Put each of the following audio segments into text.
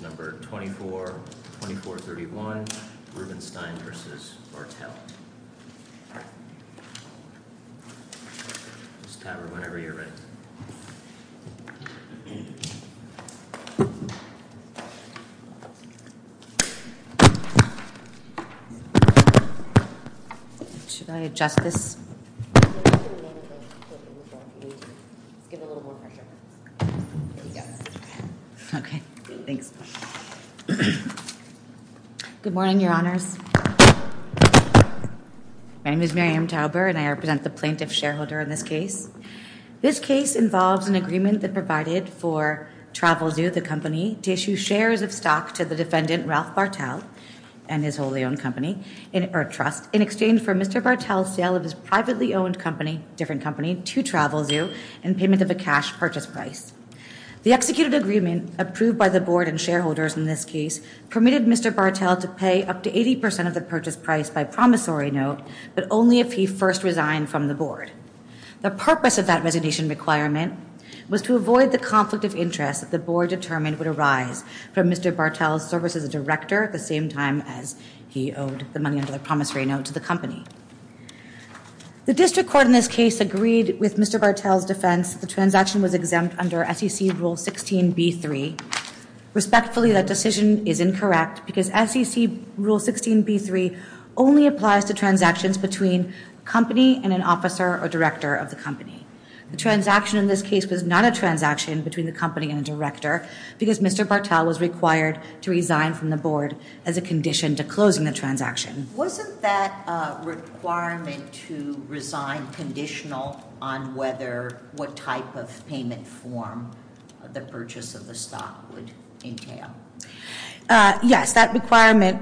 24, 2431 Rubenstein v. Martel Good morning, your honors. My name is Miriam Tauber and I represent the plaintiff shareholder in this case. This case involves an agreement that provided for Travelzoo, the company, to issue shares of stock to the defendant, Ralph Martel, and his wholly owned company, or trust, in exchange for Mr. Martel's sale of his privately owned company, different company, to Travelzoo in payment of a cash purchase price. The executed agreement, approved by the board and shareholders in this case, permitted Mr. Martel to pay up to 80% of the purchase price by promissory note, but only if he first resigned from the board. The purpose of that resignation requirement was to avoid the conflict of interest that the board determined would arise from Mr. Martel's service as a director at the same time as he owed the money under the promissory note to the company. The district court in this case agreed with Mr. Martel's defense that the transaction was exempt under SEC Rule 16b-3. Respectfully, that decision is incorrect because SEC Rule 16b-3 only applies to transactions between a company and an officer or director of the company. The transaction in this case was not a transaction between the company and the director because Mr. Martel was required to resign from the board as a condition to closing the transaction. Wasn't that requirement to resign conditional on whether, what type of payment form the purchase of the stock would entail? Yes, that requirement,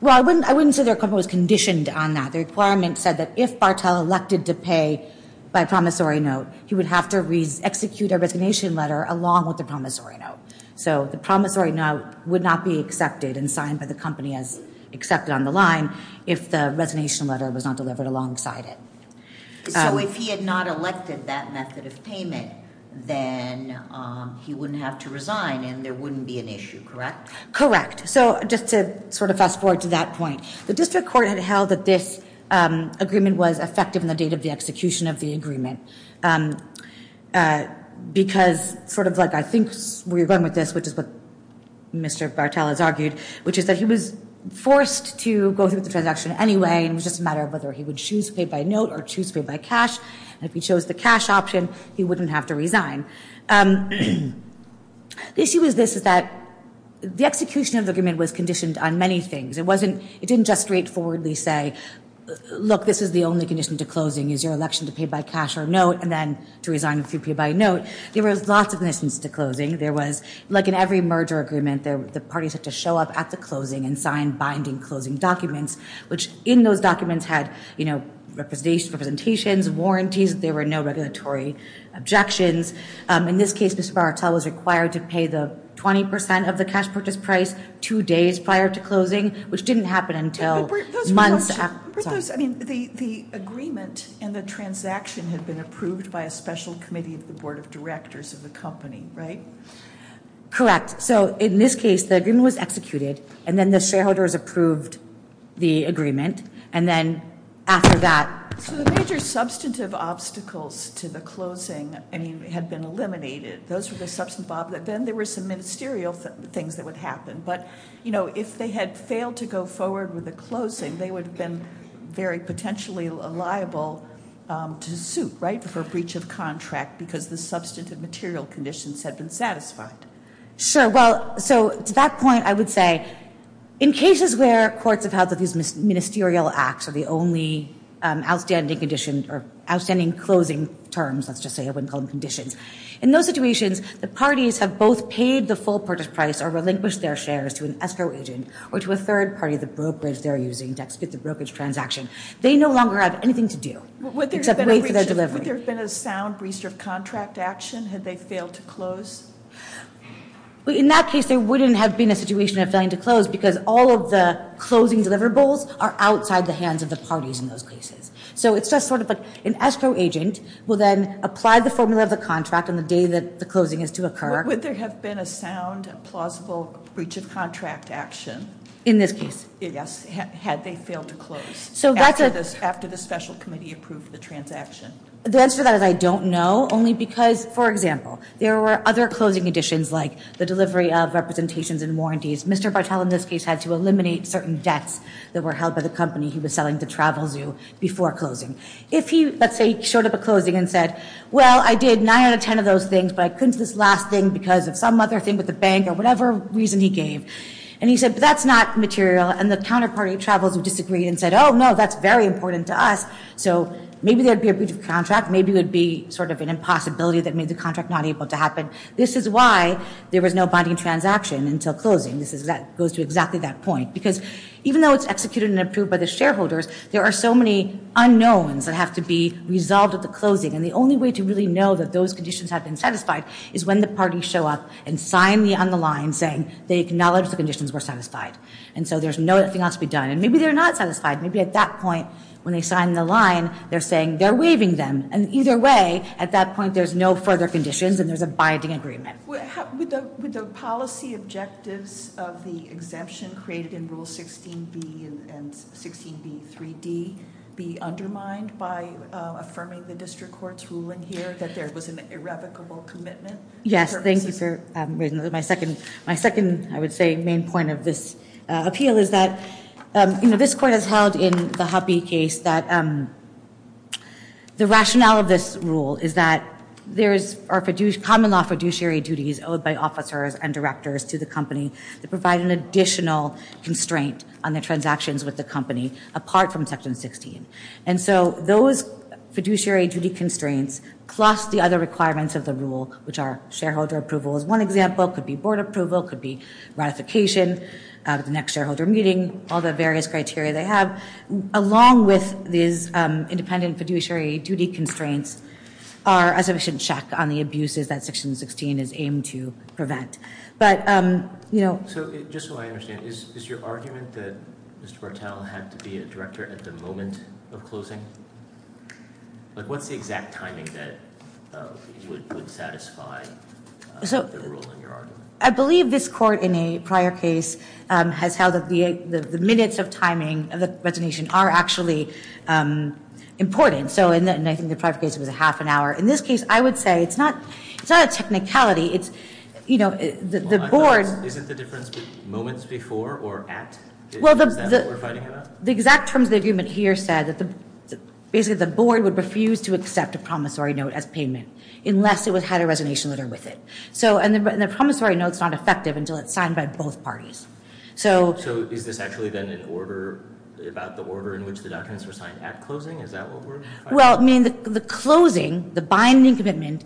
well, I wouldn't say their company was conditioned on that. The requirement said that if Martel elected to pay by promissory note, he would have to execute a resignation letter along with the promissory note. So the promissory note would not be accepted and signed by the company as accepted on the line if the resignation letter was not delivered alongside it. So if he had not elected that method of payment, then he wouldn't have to resign and there wouldn't be an issue, correct? Correct. So just to sort of fast forward to that point, the district court had held that this agreement was effective in the date of the execution of the agreement. Because, sort of like I think we were going with this, which is what Mr. Martel has argued, which is that he was forced to go through with the transaction anyway and it was just a matter of whether he would choose to pay by note or choose to pay by cash. And if he chose the cash option, he wouldn't have to resign. The issue with this is that the execution of the agreement was conditioned on many things. It didn't just straightforwardly say, look, this is the only condition to closing is your election to pay by cash or note and then to resign if you pay by note. There was lots of conditions to closing. There was, like in every merger agreement, the parties had to show up at the closing and sign binding closing documents, which in those documents had representations, warranties, there were no regulatory objections. In this case, Mr. Martel was required to pay the 20% of the cash purchase price two days prior to closing, which didn't happen until months after. I mean, the agreement and the transaction had been approved by a special committee of the board of directors of the company, right? Correct. So in this case, the agreement was executed and then the shareholders approved the agreement. And then after that- So the major substantive obstacles to the closing, I mean, had been eliminated. Those were the substantive obstacles. Then there were some ministerial things that would happen. But if they had failed to go forward with the closing, they would have been very potentially liable to suit, right, for breach of contract because the substantive material conditions had been satisfied. Sure. Well, so to that point, I would say in cases where courts have had these ministerial acts or the only outstanding condition or outstanding closing terms, let's just say, I wouldn't call them conditions, in those situations, the parties have both paid the full purchase price or relinquished their shares to an escrow agent or to a third party, the brokerage they're using to execute the brokerage transaction. They no longer have anything to do except wait for their delivery. Would there have been a sound breach of contract action had they failed to close? In that case, there wouldn't have been a situation of failing to close because all of the closing deliverables are outside the hands of the parties in those cases. So it's just sort of like an escrow agent will then apply the formula of the contract on the day that the closing is to occur. Would there have been a sound, plausible breach of contract action- In this case. Yes, had they failed to close after the special committee approved the transaction? The answer to that is I don't know. Only because, for example, there were other closing conditions like the delivery of representations and warranties. Mr. Bartel, in this case, had to eliminate certain debts that were held by the company he was selling to Travelzoo before closing. If he, let's say, showed up at closing and said, well, I did 9 out of 10 of those things, but I couldn't do this last thing because of some other thing with the bank or whatever reason he gave. And he said, but that's not material. And the counterparty of Travelzoo disagreed and said, oh, no, that's very important to us. So maybe there would be a breach of contract. Maybe it would be sort of an impossibility that made the contract not able to happen. This is why there was no binding transaction until closing. This goes to exactly that point. Because even though it's executed and approved by the shareholders, there are so many unknowns that have to be resolved at the closing. And the only way to really know that those conditions have been satisfied is when the parties show up and sign on the line saying they acknowledge the conditions were satisfied. And so there's nothing else to be done. And maybe they're not satisfied. Maybe at that point, when they sign the line, they're saying they're waiving them. And either way, at that point, there's no further conditions and there's a binding agreement. Would the policy objectives of the exemption created in Rule 16B and 16B3D be undermined by affirming the district court's ruling here that there was an irrevocable commitment? Yes, thank you for raising that. My second, I would say, main point of this appeal is that this court has held in the Hoppe case that the rationale of this rule is that there are common law fiduciary duties owed by officers and directors to the company that provide an additional constraint on the transactions with the company apart from Section 16. And so those fiduciary duty constraints plus the other requirements of the rule, which are shareholder approval, is one example, could be board approval, could be ratification of the next shareholder meeting, all the various criteria they have, along with these independent fiduciary duty constraints are a sufficient check on the abuses that Section 16 is aimed to prevent. But, you know- So just so I understand, is your argument that Mr. Bartel had to be a director at the moment of closing? What's the exact timing that would satisfy- The rule in your argument? I believe this court in a prior case has held that the minutes of timing of the resignation are actually important. And I think the prior case was a half an hour. In this case, I would say it's not a technicality, it's, you know, the board- Isn't the difference moments before or at? Is that what we're fighting about? The exact terms of the agreement here said that basically the board would refuse to accept a promissory note as payment unless it had a resignation letter with it. And the promissory note's not effective until it's signed by both parties. So is this actually then about the order in which the documents were signed at closing? Is that what we're fighting for? Well, I mean, the closing, the binding commitment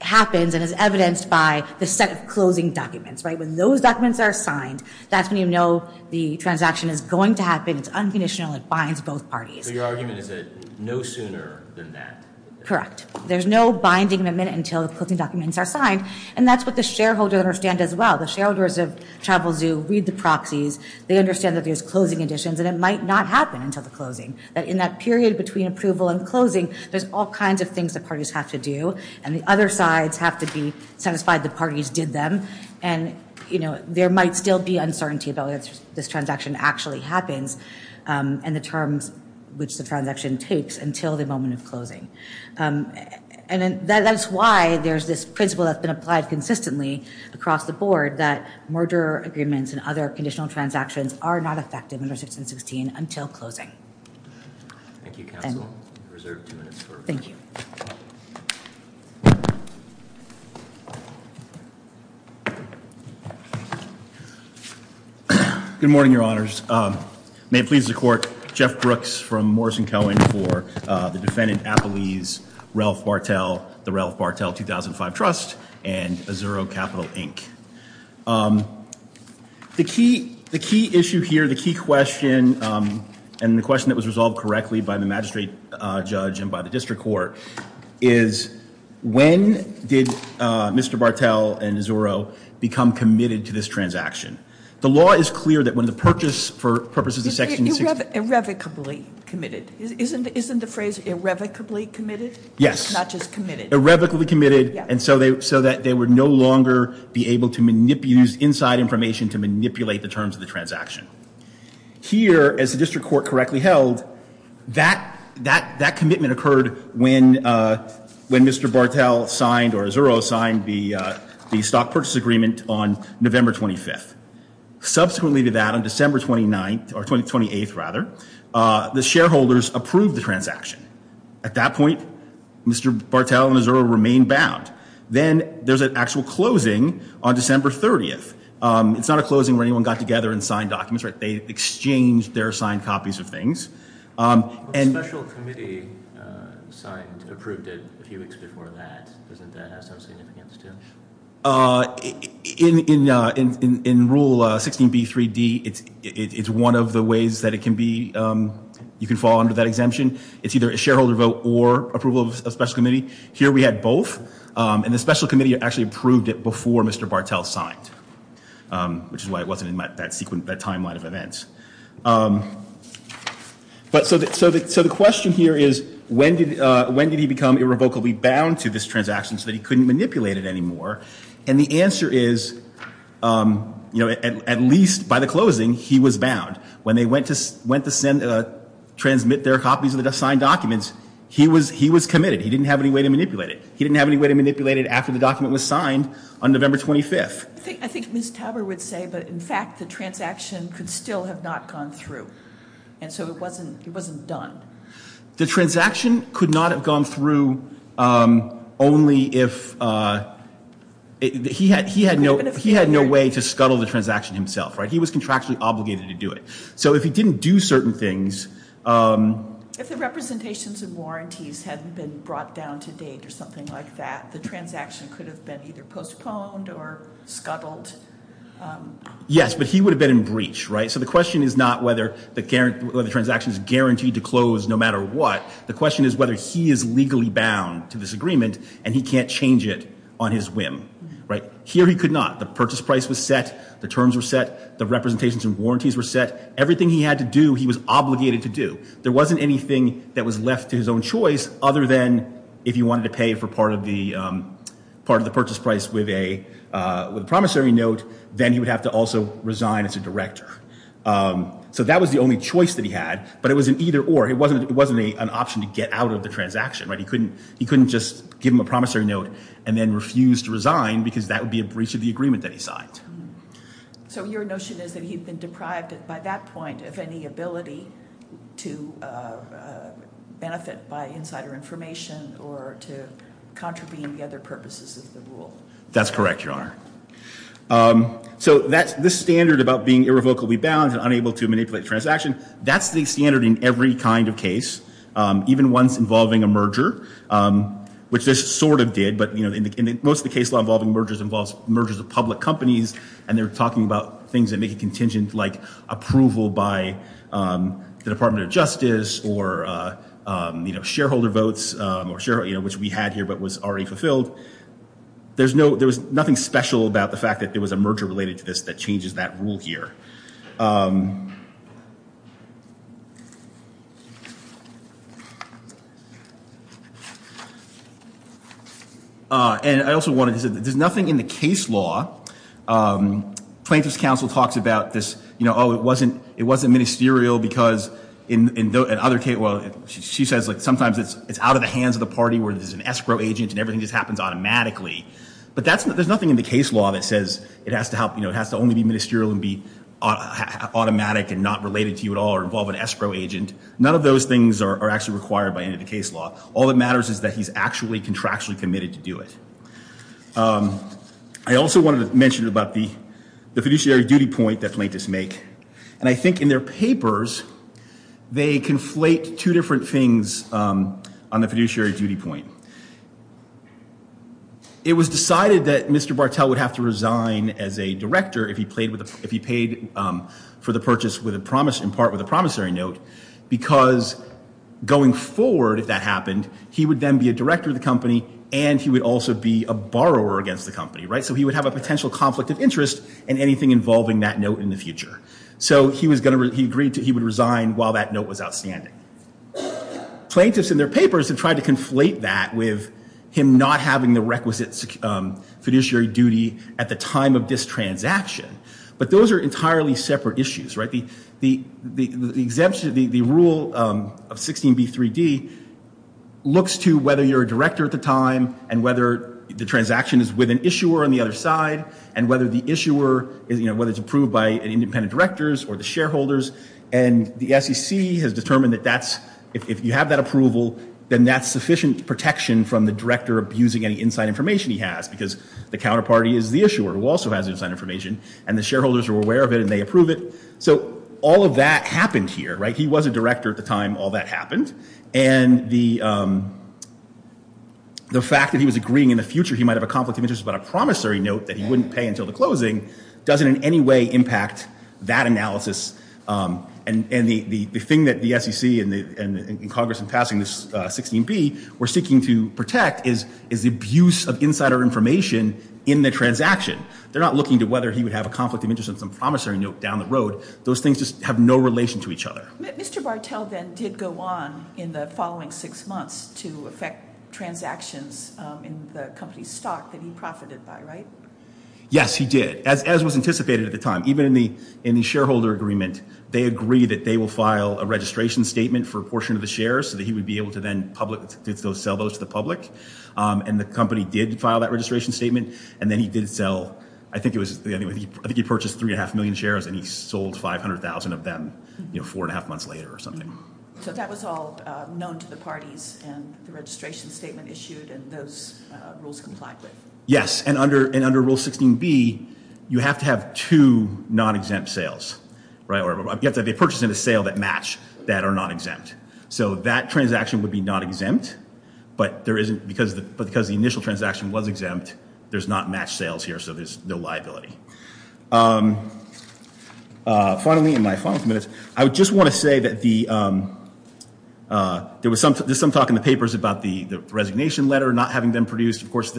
happens and is evidenced by the set of closing documents, right? When those documents are signed, that's when you know the transaction is going to happen. It's unconditional. It binds both parties. So your argument is that no sooner than that? Correct. There's no binding in a minute until the closing documents are signed. And that's what the shareholders understand as well. The shareholders of Travel Zoo read the proxies. They understand that there's closing conditions, and it might not happen until the closing. In that period between approval and closing, there's all kinds of things the parties have to do. And the other sides have to be satisfied the parties did them. And, you know, there might still be uncertainty about whether this transaction actually happens and the terms which the transaction takes until the moment of closing. And that's why there's this principle that's been applied consistently across the board that merger agreements and other conditional transactions are not effective under 1616 until closing. Thank you, counsel. Reserved two minutes for review. Thank you. Good morning, Your Honors. May it please the Court, Jeff Brooks from Morrison-Cohen for the defendant, Apolise Ralph Bartel, the Ralph Bartel 2005 Trust, and Azuro Capital, Inc. The key issue here, the key question, and the question that was resolved correctly by the magistrate judge and by the district court, is when did Mr. Bartel and Azuro become committed to this transaction? The law is clear that when the purchase for purposes of 1616. Irrevocably committed. Isn't the phrase irrevocably committed? Yes. Not just committed. Irrevocably committed, and so that they would no longer be able to use inside information to manipulate the terms of the transaction. Here, as the district court correctly held, that commitment occurred when Mr. Bartel signed or Azuro signed the stock purchase agreement on November 25th. Subsequently to that, on December 29th, or 28th rather, the shareholders approved the transaction. At that point, Mr. Bartel and Azuro remained bound. Then there's an actual closing on December 30th. It's not a closing where anyone got together and signed documents. They exchanged their signed copies of things. The special committee signed, approved it a few weeks before that. Doesn't that have some significance, too? In Rule 16b3d, it's one of the ways that it can be, you can fall under that exemption. It's either a shareholder vote or approval of a special committee. Here we had both, and the special committee actually approved it before Mr. Bartel signed, which is why it wasn't in that timeline of events. So the question here is, when did he become irrevocably bound to this transaction so that he couldn't manipulate it anymore? And the answer is, at least by the closing, he was bound. When they went to transmit their copies of the signed documents, he was committed. He didn't have any way to manipulate it. He didn't have any way to manipulate it after the document was signed on November 25th. I think Ms. Tauber would say, but in fact, the transaction could still have not gone through. And so it wasn't done. The transaction could not have gone through only if he had no way to scuttle the transaction himself. He was contractually obligated to do it. So if he didn't do certain things. If the representations and warranties had been brought down to date or something like that, the transaction could have been either postponed or scuttled. Yes, but he would have been in breach. So the question is not whether the transaction is guaranteed to close no matter what. The question is whether he is legally bound to this agreement and he can't change it on his whim. Here he could not. The purchase price was set. The terms were set. The representations and warranties were set. Everything he had to do, he was obligated to do. There wasn't anything that was left to his own choice other than if he wanted to pay for part of the purchase price with a promissory note, then he would have to also resign as a director. So that was the only choice that he had. But it was an either or. It wasn't an option to get out of the transaction. He couldn't just give him a promissory note and then refuse to resign because that would be a breach of the agreement that he signed. So your notion is that he'd been deprived by that point of any ability to benefit by insider information or to contravene the other purposes of the rule? That's correct, Your Honor. So this standard about being irrevocably bound and unable to manipulate the transaction, that's the standard in every kind of case, even ones involving a merger, which this sort of did. But most of the case law involving mergers involves mergers of public companies, and they're talking about things that make a contingent like approval by the Department of Justice or shareholder votes, which we had here but was already fulfilled. There was nothing special about the fact that there was a merger related to this that changes that rule here. And I also wanted to say that there's nothing in the case law. Plaintiff's counsel talks about this, oh, it wasn't ministerial because in other cases, well, she says sometimes it's out of the hands of the party where there's an escrow agent and everything just happens automatically. But there's nothing in the case law that says it has to only be ministerial and be automatic and not related to you at all or involve an escrow agent. None of those things are actually required by any of the case law. All that matters is that he's actually contractually committed to do it. I also wanted to mention about the fiduciary duty point that plaintiffs make. And I think in their papers, they conflate two different things on the fiduciary duty point. It was decided that Mr. Bartel would have to resign as a director if he paid for the purchase in part with a promissory note. Because going forward, if that happened, he would then be a director of the company and he would also be a borrower against the company, right? So he would have a potential conflict of interest in anything involving that note in the future. So he agreed that he would resign while that note was outstanding. Plaintiffs in their papers have tried to conflate that with him not having the requisite fiduciary duty at the time of this transaction. But those are entirely separate issues, right? The rule of 16b3d looks to whether you're a director at the time and whether the transaction is with an issuer on the other side and whether the issuer is, you know, whether it's approved by independent directors or the shareholders. And the SEC has determined that that's, if you have that approval, then that's sufficient protection from the director abusing any inside information he has because the counterparty is the issuer who also has inside information and the shareholders are aware of it and they approve it. So all of that happened here, right? He was a director at the time. All that happened. And the fact that he was agreeing in the future he might have a conflict of interest about a promissory note that he wouldn't pay until the closing doesn't in any way impact that analysis. And the thing that the SEC and Congress in passing this 16b were seeking to protect is the abuse of insider information in the transaction. They're not looking to whether he would have a conflict of interest on some promissory note down the road. Those things just have no relation to each other. Mr. Bartel then did go on in the following six months to affect transactions in the company's stock that he profited by, right? Yes, he did. As was anticipated at the time. Even in the shareholder agreement, they agree that they will file a registration statement for a portion of the shares so that he would be able to then sell those to the public. And the company did file that registration statement and then he did sell, I think he purchased three and a half million shares and he sold 500,000 of them four and a half months later or something. So that was all known to the parties and the registration statement issued and those rules complied with. Yes, and under rule 16b, you have to have two non-exempt sales, right? You have to have a purchase and a sale that match that are not exempt. So that transaction would be non-exempt, but because the initial transaction was exempt, there's not match sales here so there's no liability. Finally, in my final minutes, I just want to say that there was some talk in the papers about the resignation letter not having been produced. Of course,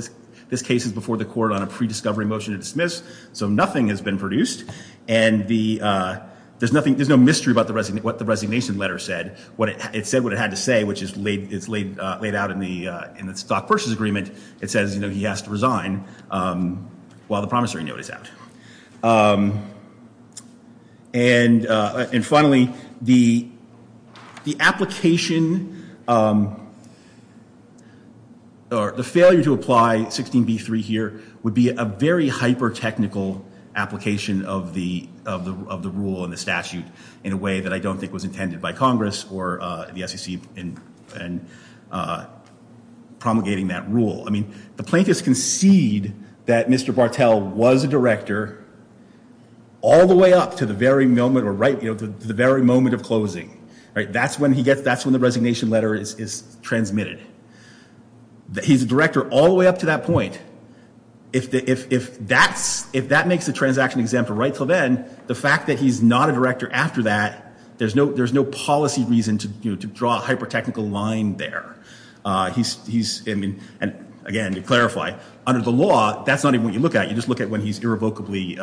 this case is before the court on a pre-discovery motion to dismiss, so nothing has been produced. And there's no mystery about what the resignation letter said. It said what it had to say, which is laid out in the stock purchase agreement. It says he has to resign while the promissory note is out. And finally, the application or the failure to apply 16b-3 here would be a very hyper-technical application of the rule and the statute in a way that I don't think was intended by Congress or the SEC in promulgating that rule. I mean, the plaintiffs concede that Mr. Bartel was a director all the way up to the very moment of closing. That's when the resignation letter is transmitted. He's a director all the way up to that point. If that makes the transaction exempt right until then, the fact that he's not a director after that, there's no policy reason to draw a hyper-technical line there. And again, to clarify, under the law, that's not even what you look at. You just look at when he's irrevocably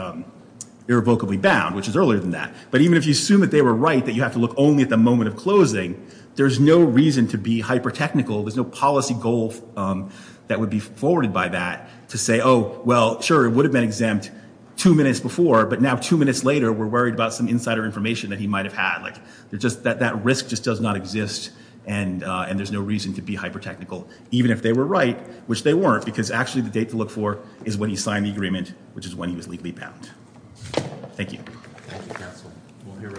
bound, which is earlier than that. But even if you assume that they were right, that you have to look only at the moment of closing, there's no reason to be hyper-technical. There's no policy goal that would be forwarded by that to say, oh, well, sure, it would have been exempt two minutes before. But now two minutes later, we're worried about some insider information that he might have had. That risk just does not exist. And there's no reason to be hyper-technical, even if they were right, which they weren't, because actually the date to look for is when he signed the agreement, which is when he was legally bound. Thank you. Thank you, counsel. We'll hear rebuttals.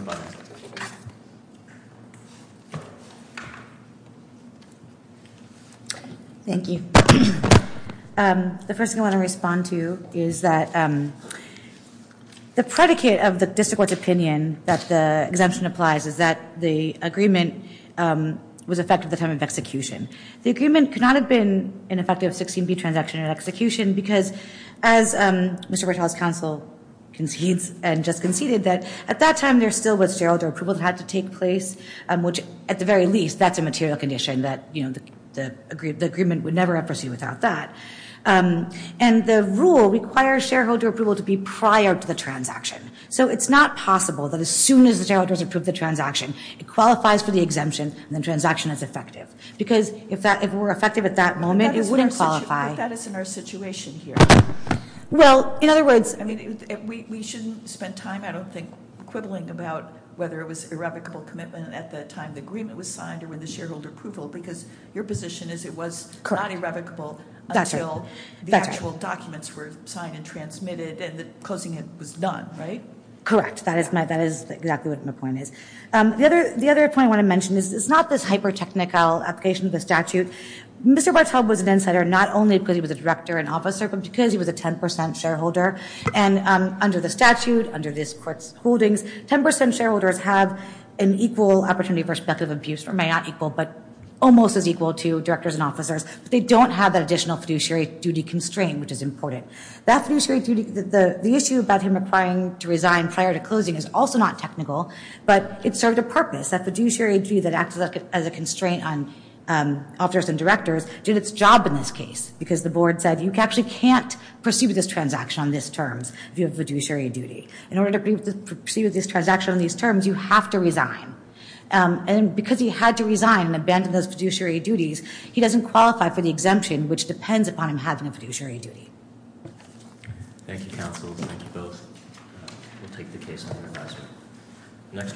Thank you. The first thing I want to respond to is that the predicate of the district court's opinion that the exemption applies is that the agreement was effective at the time of execution. The agreement could not have been an effective 16-B transaction at execution because, as Mr. Bertalli's counsel concedes and just conceded, that at that time there still was sterile door approval that had to take place, which, at the very least, that's a material condition that the agreement would never have pursued without that. And the rule requires shareholder approval to be prior to the transaction. So it's not possible that as soon as the shareholders approve the transaction, it qualifies for the exemption and the transaction is effective. Because if it were effective at that moment, it wouldn't qualify. But that is in our situation here. Well, in other words, I mean, we shouldn't spend time, I don't think, quibbling about whether it was irrevocable commitment at the time the agreement was signed or when the shareholder approval, because your position is it was not irrevocable until the actual documents were signed and transmitted, and closing it was done, right? Correct. That is exactly what my point is. The other point I want to mention is it's not this hypertechnical application of the statute. Mr. Bartel was an insider not only because he was a director and officer, but because he was a 10% shareholder. And under the statute, under this court's holdings, 10% shareholders have an equal opportunity for speculative abuse, or may not equal, but almost as equal to directors and officers. But they don't have that additional fiduciary duty constraint, which is important. That fiduciary duty, the issue about him applying to resign prior to closing is also not technical, but it served a purpose. That fiduciary duty that acts as a constraint on officers and directors did its job in this case, because the board said you actually can't proceed with this transaction on these terms if you have fiduciary duty. In order to proceed with this transaction on these terms, you have to resign. And because he had to resign and abandon those fiduciary duties, he doesn't qualify for the exemption, which depends upon him having a fiduciary duty. Thank you, counsel. Thank you both. We'll take the case in the classroom.